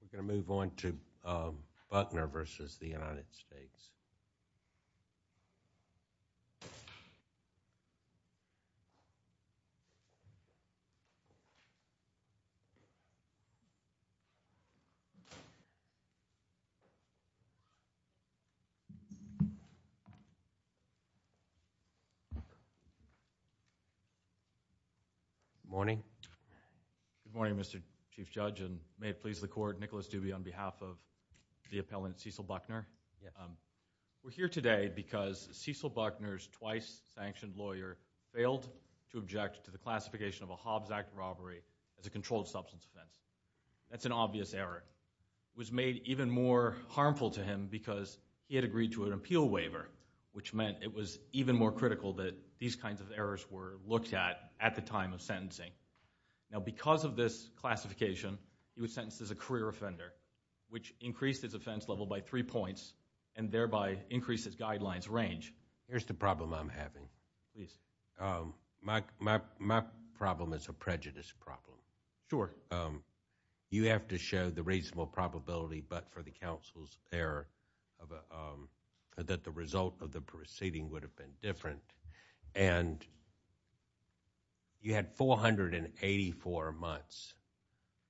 We're going to move on to Buckner v. United States. Good morning, Mr. Chief Judge, and may it please the Court, Nicholas Dubey on behalf of the appellant Cecil Buckner. We're here today because Cecil Buckner's twice-sanctioned lawyer failed to object to the classification of a Hobbs Act robbery as a controlled substance offense. That's an obvious error. It was made even more harmful to him because he had agreed to an appeal waiver, which meant it was even more critical that these kinds of errors were looked at at the time of sentencing. Now, because of this classification, he was sentenced as a career offender, which increased his offense level by three points and thereby increased his guidelines range. Here's the problem I'm having. My problem is a prejudice problem. You have to show the reasonable probability, but for the counsel's error, that the result of the proceeding would have been different. You had 484 months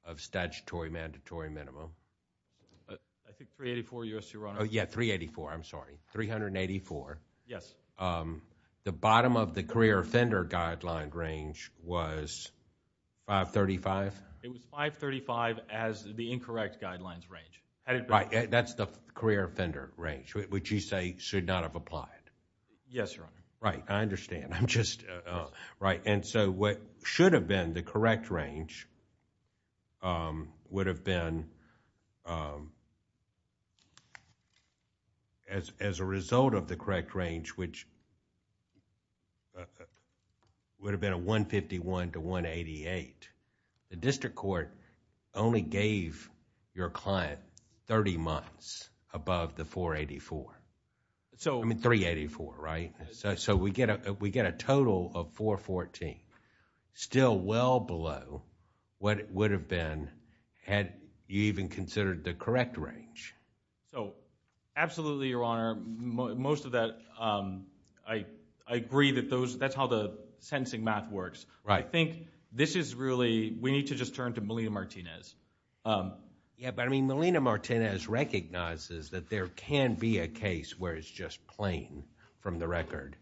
of statutory mandatory minimum. I think 384, Your Honor. Yeah, 384, I'm sorry. 384. Yes. The bottom of the career offender guideline range was 535? It was 535 as the incorrect guidelines range. Right. That's the career offender range, which you say should not have applied. Yes, Your Honor. Right. I understand. I'm just... Yes. What should have been the correct range would have been... as a result of the correct range, which would have been a 151 to 188, the district court only gave your client 30 months above the 384, so we get a total of 414, still well below what it would have been had you even considered the correct range. Absolutely, Your Honor. Most of that... I agree that that's how the sentencing math works. Right. I think this is really... we need to just turn to Melina Martinez. Yeah, but Melina Martinez recognizes that there can be a case where it's just plain from the record.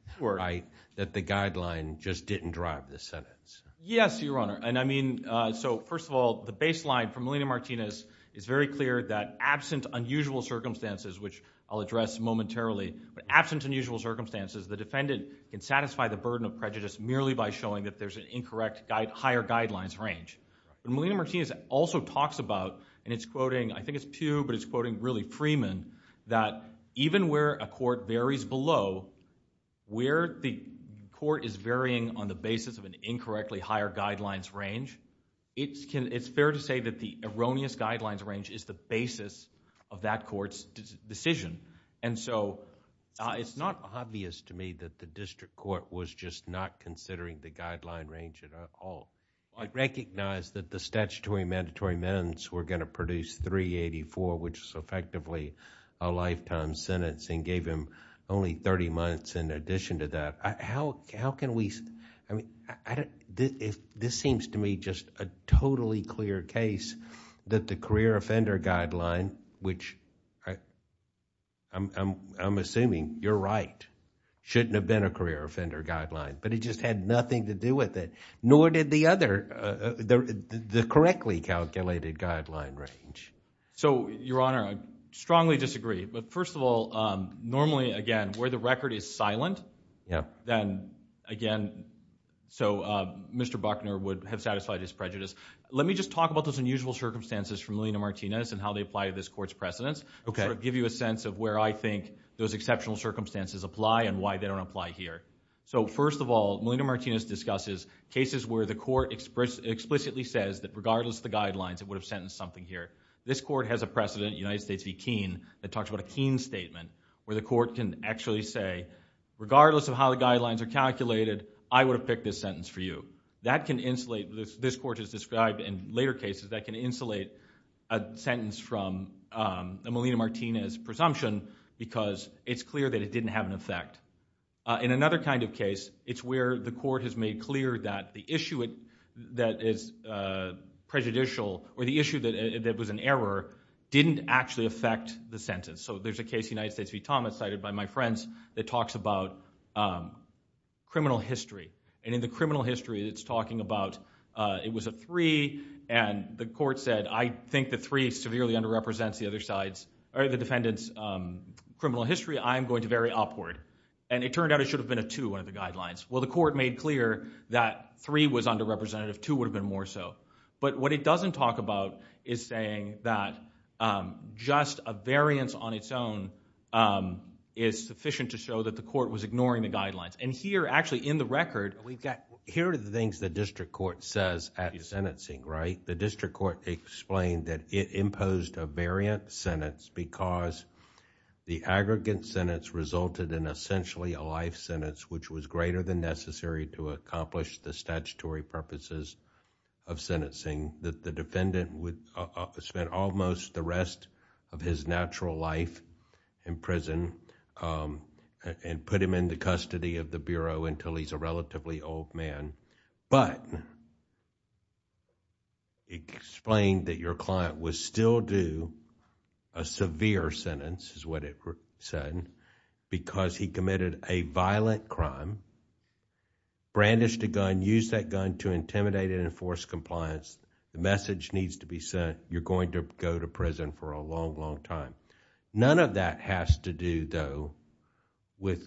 That the guideline just didn't drive the sentence. Yes, Your Honor. First of all, the baseline for Melina Martinez is very clear that absent unusual circumstances, which I'll address momentarily, but absent unusual circumstances, the defendant can satisfy the burden of prejudice merely by showing that there's an incorrect higher guidelines range. Melina Martinez also talks about, and it's quoting, I think it's Pew, but it's quoting really Freeman, that even where a court varies below, where the court is varying on the basis of an incorrectly higher guidelines range, it's fair to say that the erroneous guidelines range is the basis of that court's decision. It's not obvious to me that the district court was just not considering the guideline range at all. I recognize that the statutory mandatory amendments were going to produce 384, which is effectively a lifetime sentence and gave him only 30 months in addition to that. This seems to me just a totally clear case that the career offender guideline, which I'm assuming you're right, shouldn't have been a career offender guideline, but it just had nothing to do with it. Nor did the other, the correctly calculated guideline range. So Your Honor, I strongly disagree. But first of all, normally, again, where the record is silent, then again, so Mr. Buckner would have satisfied his prejudice. Let me just talk about those unusual circumstances from Melina Martinez and how they apply to this court's precedence. I'll sort of give you a sense of where I think those exceptional circumstances apply and why they don't apply here. So first of all, Melina Martinez discusses cases where the court explicitly says that regardless of the guidelines, it would have sentenced something here. This court has a precedent, United States v. Keene, that talks about a Keene statement where the court can actually say, regardless of how the guidelines are calculated, I would have picked this sentence for you. That can insulate, this court has described in later cases, that can insulate a sentence from a Melina Martinez presumption because it's clear that it didn't have an effect. In another kind of case, it's where the court has made clear that the issue that is prejudicial or the issue that was an error didn't actually affect the sentence. So there's a case, United States v. Thomas, cited by my friends, that talks about criminal history. And in the criminal history, it's talking about it was a three, and the court said, I think the three severely underrepresents the defendant's criminal history. I'm going to vary upward. And it turned out it should have been a two out of the guidelines. Well, the court made clear that three was underrepresentative, two would have been more so. But what it doesn't talk about is saying that just a variance on its own is sufficient to show that the court was ignoring the guidelines. And here, actually, in the record, we've got... Here are the things the district court says at the sentencing, right? The district court explained that it imposed a variant sentence because the aggregate sentence resulted in essentially a life sentence, which was greater than necessary to accomplish the statutory purposes of sentencing. The defendant spent almost the rest of his natural life in prison and put him into custody of the Bureau until he's a relatively old man. But it explained that your client was still due a severe sentence, is what it said, because he committed a violent crime, brandished a gun, used that gun to intimidate and enforce compliance. The message needs to be sent, you're going to go to prison for a long, long time. None of that has to do, though, with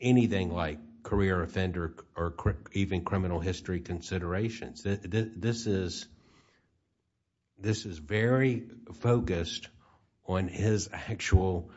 anything like career offender or even criminal history considerations. This is very focused on his actual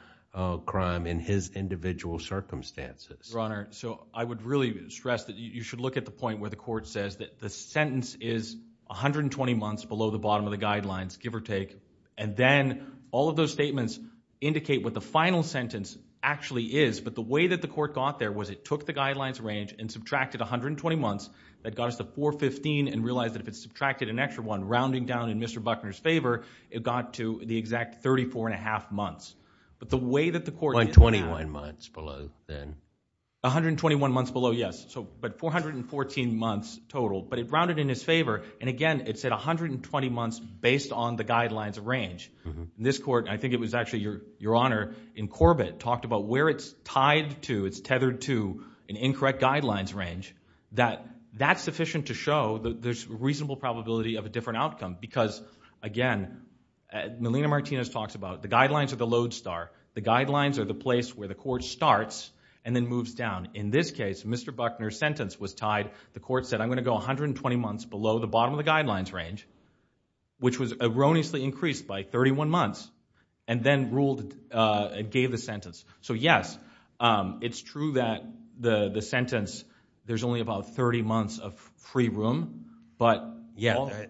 crime and his individual circumstances. Your Honor, so I would really stress that you should look at the point where the court says that the sentence is 120 months below the bottom of the guidelines, give or take, and then all of those statements indicate what the final sentence actually is. But the way that the court got there was it took the guidelines range and subtracted 120 months. That got us to 415 and realized that if it's subtracted an extra one, rounding down in Mr. Buckner's favor, it got to the exact 34 and a half months. But the way that the court- By 21 months below, then. 121 months below, yes, but 414 months total, but it rounded in his favor. And again, it said 120 months based on the guidelines range. This court, and I think it was actually your Honor, in Corbett, talked about where it's tied to, it's tethered to an incorrect guidelines range, that that's sufficient to show there's a reasonable probability of a different outcome because, again, Melina Martinez talks about the guidelines are the lodestar, the guidelines are the place where the court starts and then moves down. In this case, Mr. Buckner's sentence was tied, the court said, I'm going to go 120 months below the bottom of the guidelines range, which was erroneously increased by 31 months, and then ruled and gave the sentence. So yes, it's true that the sentence, there's only about 30 months of free room, but- Yeah,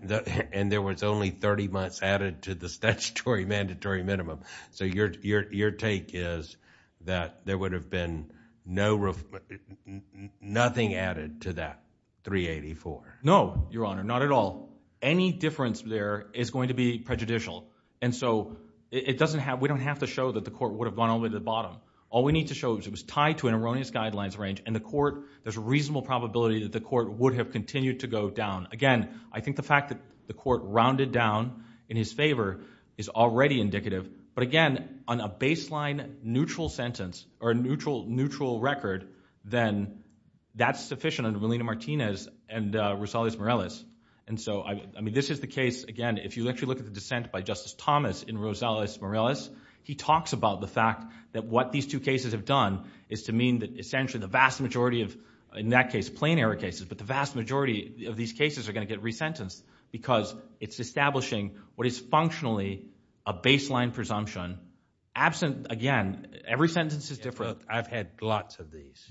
and there was only 30 months added to the statutory mandatory minimum. So your take is that there would have been nothing added to that 384? No, your Honor, not at all. Any difference there is going to be prejudicial. And so we don't have to show that the court would have gone all the way to the bottom. All we need to show is it was tied to an erroneous guidelines range and the court, there's a reasonable probability that the court would have continued to go down. Again, I think the fact that the court rounded down in his favor is already indicative. But again, on a baseline neutral sentence or a neutral record, then that's sufficient under Molina-Martinez and Rosales-Morales. And so, I mean, this is the case, again, if you actually look at the dissent by Justice Thomas in Rosales-Morales, he talks about the fact that what these two cases have done is to mean that essentially the vast majority of, in that case, plain error cases, but the vast majority of these cases are going to get resentenced because it's establishing what is functionally a baseline presumption absent, again, every sentence is different. So I've had lots of these.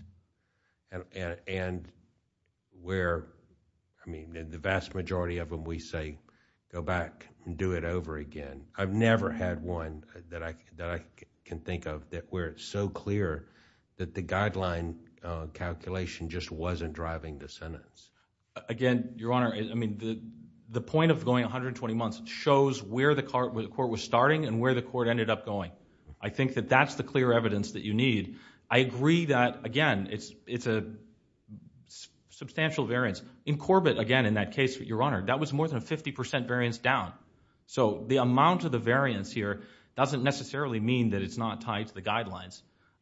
And where, I mean, the vast majority of them we say, go back and do it over again. I've never had one that I can think of where it's so clear that the guideline calculation just wasn't driving the sentence. Again, Your Honor, I mean, the point of going 120 months shows where the court was starting and where the court ended up going. I think that that's the clear evidence that you need. I agree that, again, it's a substantial variance. In Corbett, again, in that case, Your Honor, that was more than a 50% variance down. So the amount of the variance here doesn't necessarily mean that it's not tied to the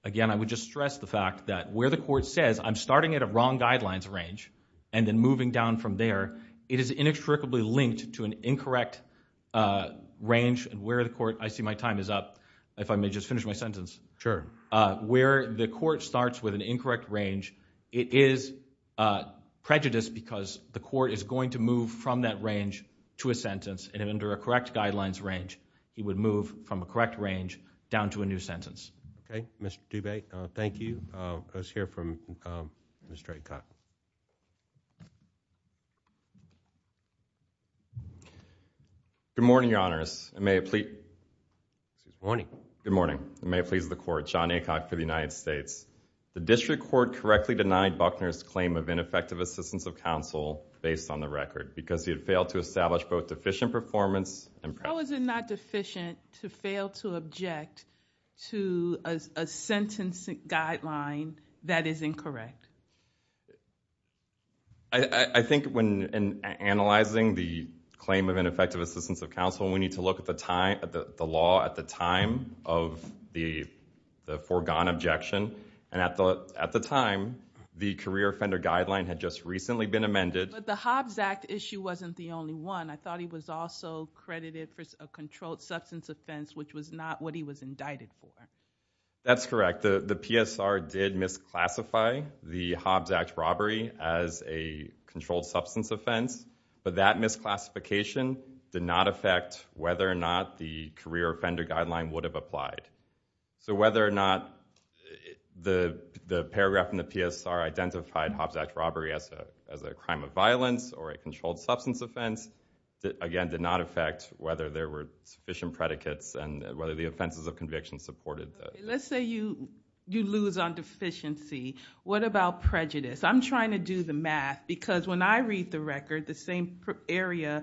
Again, I would just stress the fact that where the court says, I'm starting at a wrong guidelines range and then moving down from there, it is inextricably linked to an incorrect range and where the court, I see my time is up, if I may just finish my sentence. Where the court starts with an incorrect range, it is prejudiced because the court is going to move from that range to a sentence and under a correct guidelines range, he would move from a correct range down to a new sentence. Okay, Mr. Dubé, thank you. Let's hear from Mr. Aycock. Good morning, Your Honors. Good morning. Good morning. May it please the court, John Aycock for the United States. The district court correctly denied Buckner's claim of ineffective assistance of counsel based on the record because he had failed to establish both deficient performance and practice. How is it not deficient to fail to object to a sentence guideline that is incorrect? I think when analyzing the claim of ineffective assistance of counsel, we need to look at the law at the time of the foregone objection and at the time, the career offender guideline had just recently been amended. The Hobbs Act issue wasn't the only one. I thought he was also credited for a controlled substance offense, which was not what he was indicted for. That's correct. In fact, the PSR did misclassify the Hobbs Act robbery as a controlled substance offense, but that misclassification did not affect whether or not the career offender guideline would have applied. Whether or not the paragraph in the PSR identified Hobbs Act robbery as a crime of violence or a controlled substance offense, again, did not affect whether there were sufficient predicates and whether the offenses of conviction supported that. Let's say you lose on deficiency. What about prejudice? I'm trying to do the math because when I read the record, the same area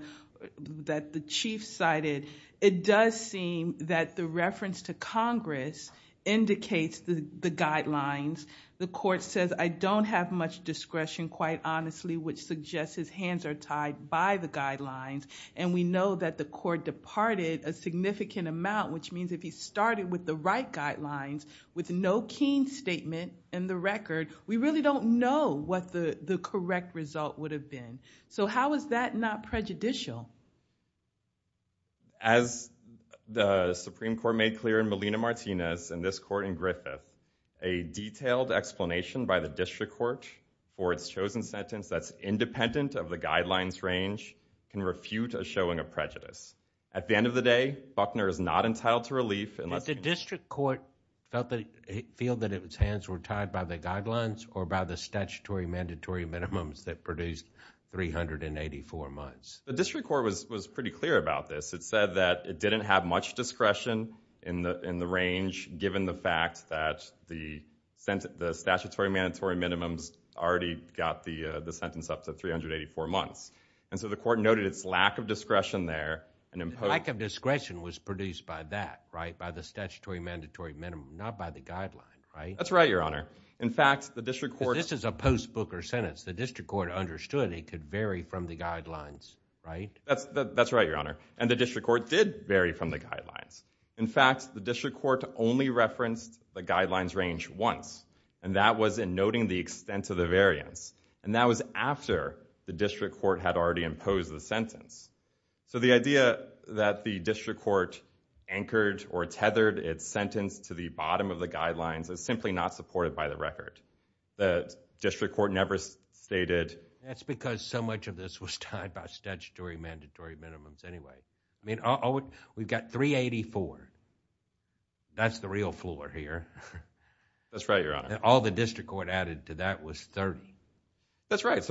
that the chief cited, it does seem that the reference to Congress indicates the guidelines. The court says, I don't have much discretion, quite honestly, which suggests his hands are tied by the guidelines. We know that the court departed a significant amount, which means if he started with the right guidelines with no keen statement in the record, we really don't know what the correct result would have been. How is that not prejudicial? As the Supreme Court made clear in Molina-Martinez and this court in Griffith, a detailed explanation by the district court for its chosen sentence that's independent of the guidelines range can refute a showing of prejudice. At the end of the day, Buckner is not entitled to relief unless... Did the district court feel that its hands were tied by the guidelines or by the statutory mandatory minimums that produced 384 months? The district court was pretty clear about this. It said that it didn't have much discretion in the range given the fact that the statutory mandatory minimums already got the sentence up to 384 months. The court noted its lack of discretion there. Lack of discretion was produced by that, by the statutory mandatory minimum, not by the guidelines, right? That's right, Your Honor. In fact, the district court... This is a post-Booker sentence. The district court understood it could vary from the guidelines, right? That's right, Your Honor. The district court did vary from the guidelines. In fact, the district court only referenced the guidelines range once. That was in noting the extent of the variance. That was after the district court had already imposed the sentence. The idea that the district court anchored or tethered its sentence to the bottom of the guidelines is simply not supported by the record. The district court never stated... That's because so much of this was tied by statutory mandatory minimums anyway. We've got 384. That's the real floor here. That's right, Your Honor. All the district court added to that was 30. That's right.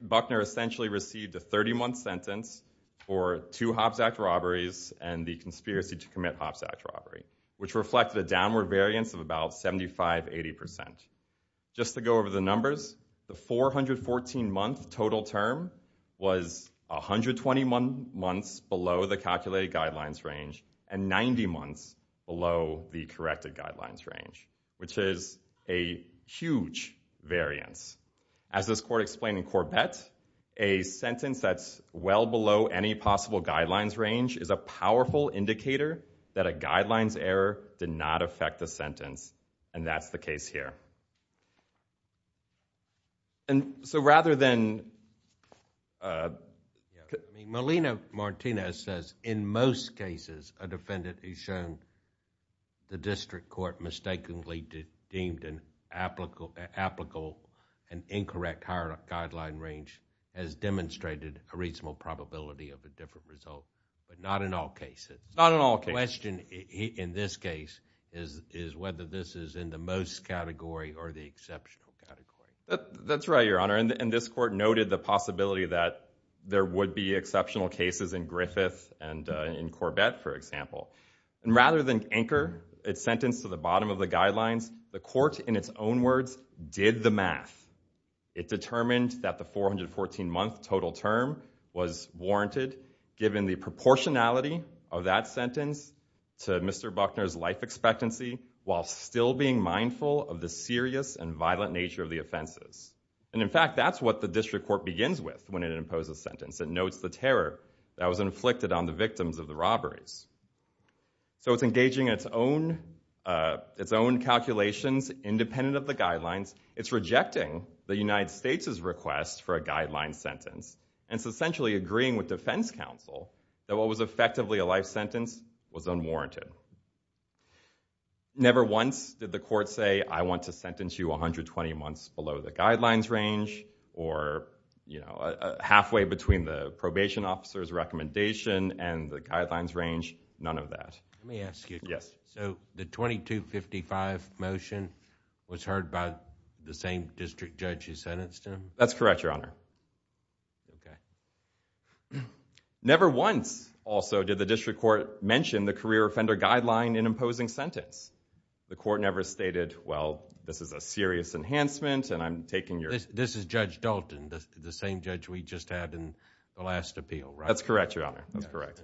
Buckner essentially received a 30-month sentence for two Hobbs Act robberies and the conspiracy to commit Hobbs Act robbery, which reflected a downward variance of about 75, 80 percent. Just to go over the numbers, the 414-month total term was 121 months below the calculated guidelines range and 90 months below the corrected guidelines range, which is a huge variance. As this court explained in Corvette, a sentence that's well below any possible guidelines range is a powerful indicator that a guidelines error did not affect the sentence, and that's the case here. Rather than... That's right, Your Honor, and this court noted the possibility that there would be exceptional cases in Griffith and in Corvette, for example. Rather than anchor its sentence to the bottom of the guidelines, the court, in its own words, did the math. It determined that the 414-month total term was warranted, given the proportionality of that sentence to Mr. Buckner's life expectancy, while still being mindful of the serious and violent nature of the offenses, and in fact, that's what the district court begins with when it imposes a sentence. It notes the terror that was inflicted on the victims of the robberies, so it's engaging in its own calculations, independent of the guidelines. It's rejecting the United States' request for a guidelines sentence, and it's essentially agreeing with defense counsel that what was effectively a life sentence was unwarranted. Never once did the court say, I want to sentence you 120 months below the guidelines range, or halfway between the probation officer's recommendation and the guidelines range, none of that. Let me ask you, so the 2255 motion was heard by the same district judge who sentenced him? That's correct, Your Honor. Never once, also, did the district court mention the career offender guideline in imposing sentence. The court never stated, well, this is a serious enhancement, and I'm taking your... This is Judge Dalton, the same judge we just had in the last appeal, right? That's correct, Your Honor, that's correct.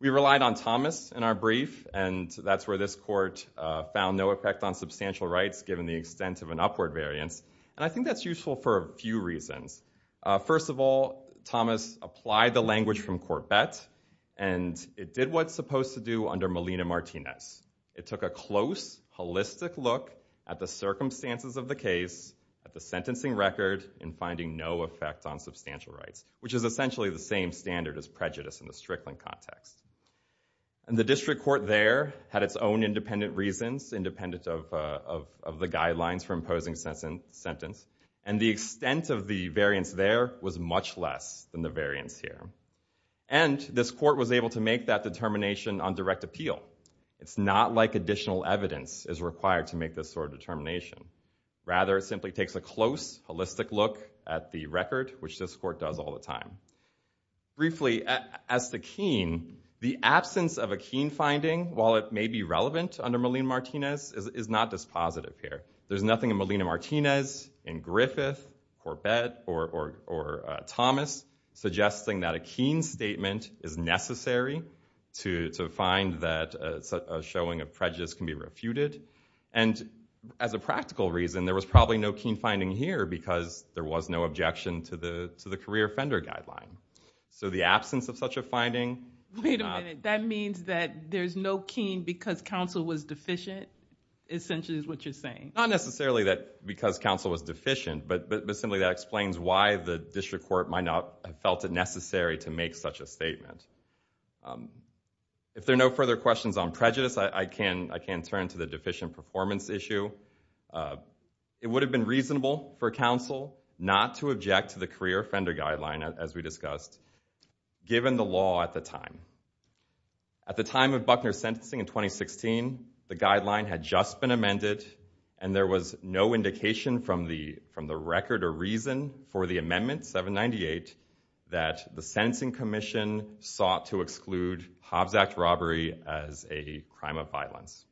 We relied on Thomas in our brief, and that's where this court found no effect on substantial rights given the extent of an upward variance, and I think that's useful for a few reasons. First of all, Thomas applied the language from Corbett, and it did what it's supposed to do under Molina-Martinez. It took a close, holistic look at the circumstances of the case, at the sentencing record, and finding no effect on substantial rights, which is essentially the same standard as prejudice in the Strickland context. And the district court there had its own independent reasons, independent of the guidelines for imposing sentence, and the extent of the variance there was much less than the variance here. And this court was able to make that determination on direct appeal. It's not like additional evidence is required to make this sort of determination. Rather, it simply takes a close, holistic look at the record, which this court does all the time. Briefly, as to Keene, the absence of a Keene finding, while it may be relevant under Molina-Martinez, is not dispositive here. There's nothing in Molina-Martinez, in Griffith, Corbett, or Thomas, suggesting that a Keene statement is necessary to find that a showing of prejudice can be refuted. And as a practical reason, there was probably no Keene finding here, because there was no objection to the career offender guideline. So the absence of such a finding... Wait a minute. That means that there's no Keene because counsel was deficient, essentially, is what you're Not necessarily that because counsel was deficient, but simply that explains why the district court might not have felt it necessary to make such a statement. If there are no further questions on prejudice, I can turn to the deficient performance issue. It would have been reasonable for counsel not to object to the career offender guideline, as we discussed, given the law at the time. At the time of Buckner's sentencing in 2016, the guideline had just been amended, and there was no indication from the record or reason for the amendment, 798, that the sentencing commission sought to exclude Hobbs Act robbery as a crime of violence.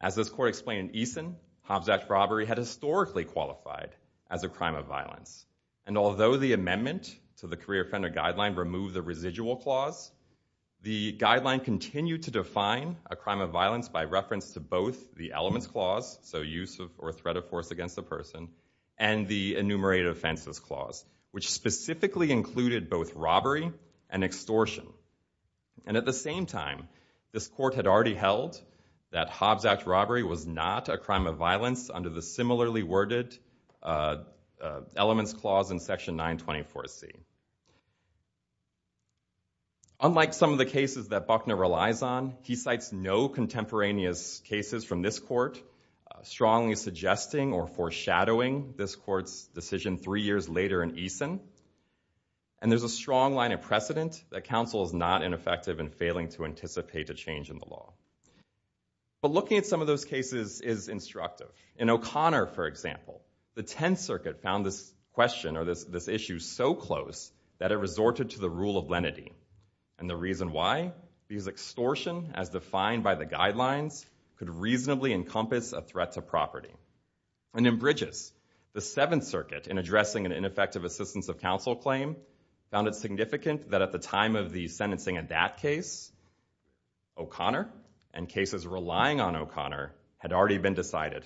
As this court explained in Eason, Hobbs Act robbery had historically qualified as a crime of violence, and although the amendment to the career offender guideline removed the residual clause, the guideline continued to define a crime of violence by reference to both the elements clause, so use or threat of force against a person, and the enumerated offenses clause, which specifically included both robbery and extortion. And at the same time, this court had already held that Hobbs Act robbery was not a crime of violence under the similarly worded elements clause in section 924C. Unlike some of the cases that Buckner relies on, he cites no contemporaneous cases from this court, strongly suggesting or foreshadowing this court's decision three years later in Eason, and there's a strong line of precedent that counsel is not ineffective in failing to anticipate a change in the law. But looking at some of those cases is instructive. In O'Connor, for example, the Tenth Circuit found this question or this issue so close that it resorted to the rule of lenity, and the reason why, because extortion, as defined by the guidelines, could reasonably encompass a threat to property. And in Bridges, the Seventh Circuit, in addressing an ineffective assistance of counsel claim, found it significant that at the time of the sentencing of that case, O'Connor, and cases relying on O'Connor, had already been decided.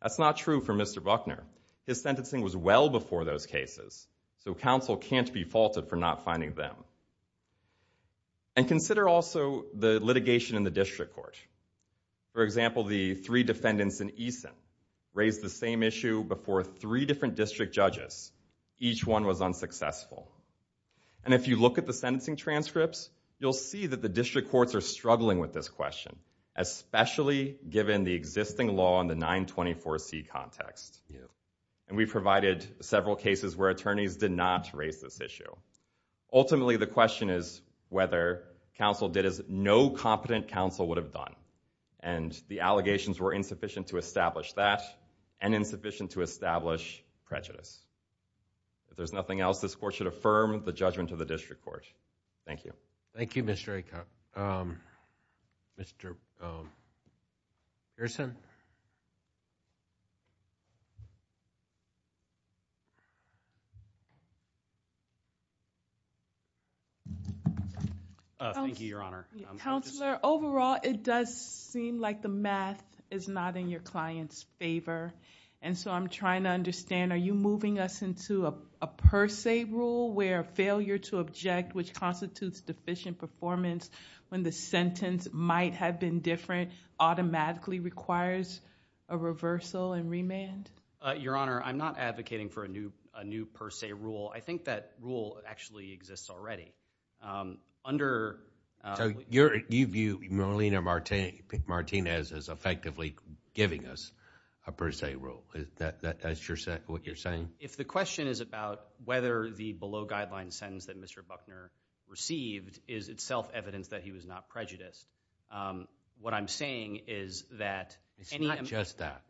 That's not true for Mr. Buckner. His sentencing was well before those cases, so counsel can't be faulted for not finding them. And consider also the litigation in the district court. For example, the three defendants in Eason raised the same issue before three different district judges. Each one was unsuccessful. And if you look at the sentencing transcripts, you'll see that the district courts are struggling with this question, especially given the existing law in the 924C context. And we provided several cases where attorneys did not raise this issue. Ultimately, the question is whether counsel did as no competent counsel would have done. And the allegations were insufficient to establish that, and insufficient to establish prejudice. If there's nothing else, this court should affirm the judgment of the district court. Thank you. Thank you, Mr. Aikau. Mr. Pearson? Thank you, Your Honor. Counselor, overall, it does seem like the math is not in your client's favor. And so I'm trying to understand, are you moving us into a per se rule where failure to object, which constitutes deficient performance, when the sentence might have been different, automatically requires a reversal and remand? Your Honor, I'm not advocating for a new per se rule. I think that rule actually exists already. Under... So you view Marlena Martinez as effectively giving us a per se rule? That's what you're saying? If the question is about whether the below guideline sentence that Mr. Buckner received is itself evidence that he was not prejudiced. What I'm saying is that... It's not just that.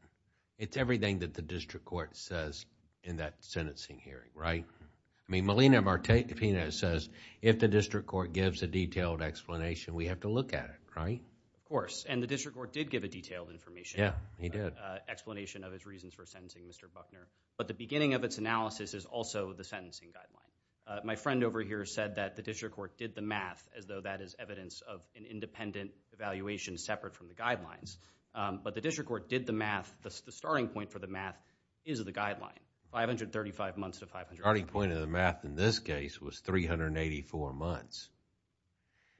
It's everything that the district court says in that sentencing hearing, right? I mean, Marlena Martinez says, if the district court gives a detailed explanation, we have to look at it, right? Of course. And the district court did give a detailed information. Yeah, he did. Explanation of his reasons for sentencing Mr. Buckner. But the beginning of its analysis is also the sentencing guideline. My friend over here said that the district court did the math as though that is evidence of an independent evaluation separate from the guidelines. But the district court did the math. The starting point for the math is the guideline, 535 months to 535 months. The starting point of the math in this case was 384 months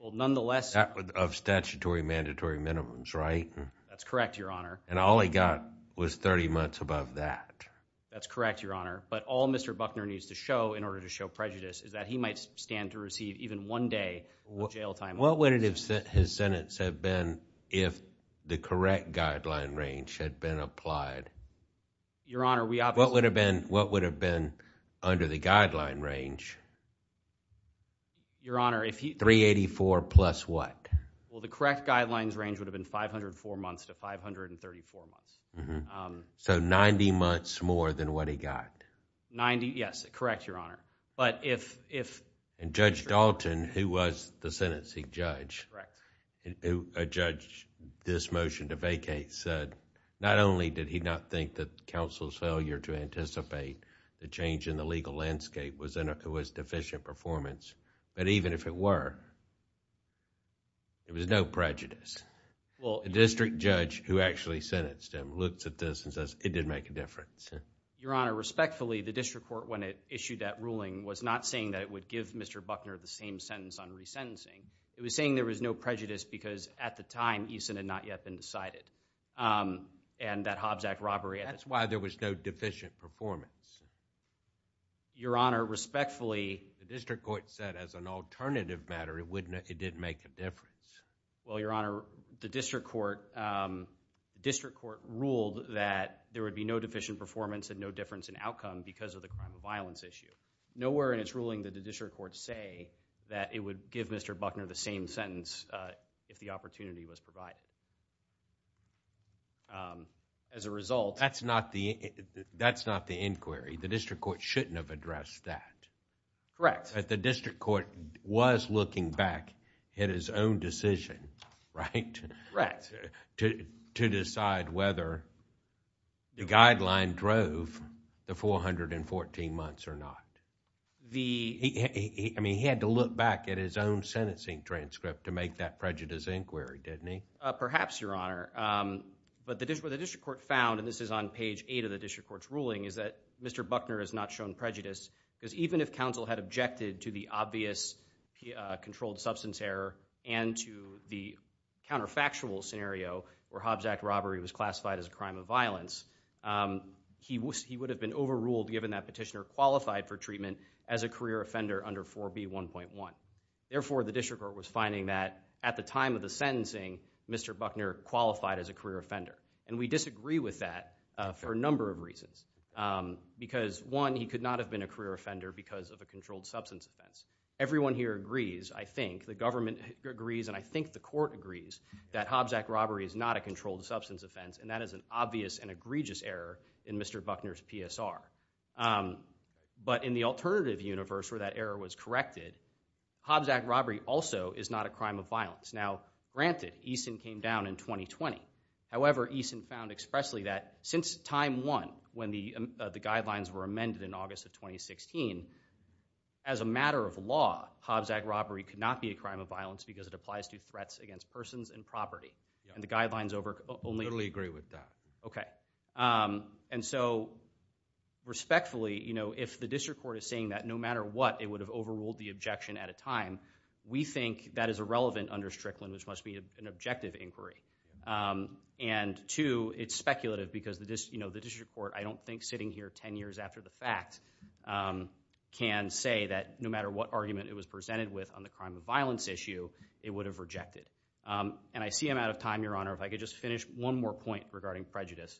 of statutory mandatory minimums, right? That's correct, your honor. And all he got was 30 months above that. That's correct, your honor. But all Mr. Buckner needs to show in order to show prejudice is that he might stand to receive even one day of jail time. And what would his sentence have been if the correct guideline range had been applied? Your honor, we obviously... What would have been under the guideline range? Your honor, if he... 384 plus what? Well, the correct guidelines range would have been 504 months to 534 months. So 90 months more than what he got? 90, yes. Correct, your honor. But if... And Judge Dalton, who was the sentencing judge, who judged this motion to vacate, said not only did he not think that counsel's failure to anticipate the change in the legal landscape was deficient performance, but even if it were, there was no prejudice. A district judge who actually sentenced him looks at this and says, it didn't make a difference. Your honor, respectfully, the district court, when it issued that ruling, was not saying that it would give Mr. Buckner the same sentence on resentencing. It was saying there was no prejudice because at the time, Eason had not yet been decided. And that Hobbs Act robbery... That's why there was no deficient performance. Your honor, respectfully... The district court said as an alternative matter, it didn't make a difference. Well, your honor, the district court ruled that there would be no deficient performance and no difference in outcome because of the crime of violence issue. Nowhere in its ruling did the district court say that it would give Mr. Buckner the same sentence if the opportunity was provided. As a result... That's not the inquiry. The district court shouldn't have addressed that. Correct. But the district court was looking back at his own decision, right, to decide whether the guideline drove the 414 months or not. I mean, he had to look back at his own sentencing transcript to make that prejudice inquiry, didn't he? Perhaps, your honor. But what the district court found, and this is on page eight of the district court's ruling, is that Mr. Buckner has not shown prejudice because even if counsel had objected to the obvious controlled substance error and to the counterfactual scenario where Hobbs Act robbery was classified as a crime of violence, he would have been overruled given that petitioner qualified for treatment as a career offender under 4B1.1. Therefore, the district court was finding that at the time of the sentencing, Mr. Buckner qualified as a career offender. And we disagree with that for a number of reasons. Because one, he could not have been a career offender because of a controlled substance offense. Everyone here agrees, I think, the government agrees, and I think the court agrees, that is an obvious and egregious error in Mr. Buckner's PSR. But in the alternative universe where that error was corrected, Hobbs Act robbery also is not a crime of violence. Now, granted, Eason came down in 2020. However, Eason found expressly that since time one, when the guidelines were amended in August of 2016, as a matter of law, Hobbs Act robbery could not be a crime of violence because it applies to threats against persons and property. And the guidelines only- Totally agree with that. Okay. And so, respectfully, if the district court is saying that no matter what, it would have overruled the objection at a time, we think that is irrelevant under Strickland, which must be an objective inquiry. And two, it's speculative because the district court, I don't think sitting here 10 years after the fact, can say that no matter what argument it was presented with on the crime of violence issue, it would have rejected. And I see I'm out of time, Your Honor. If I could just finish one more point regarding prejudice.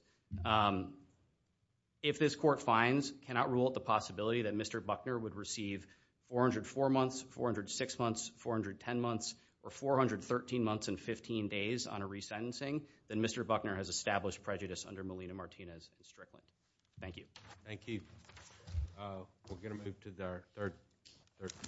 If this court finds, cannot rule out the possibility that Mr. Buckner would receive 404 months, 406 months, 410 months, or 413 months and 15 days on a resentencing, then Mr. Buckner has established prejudice under Melina Martinez and Strickland. Thank you. Thank you. We're going to move to our third-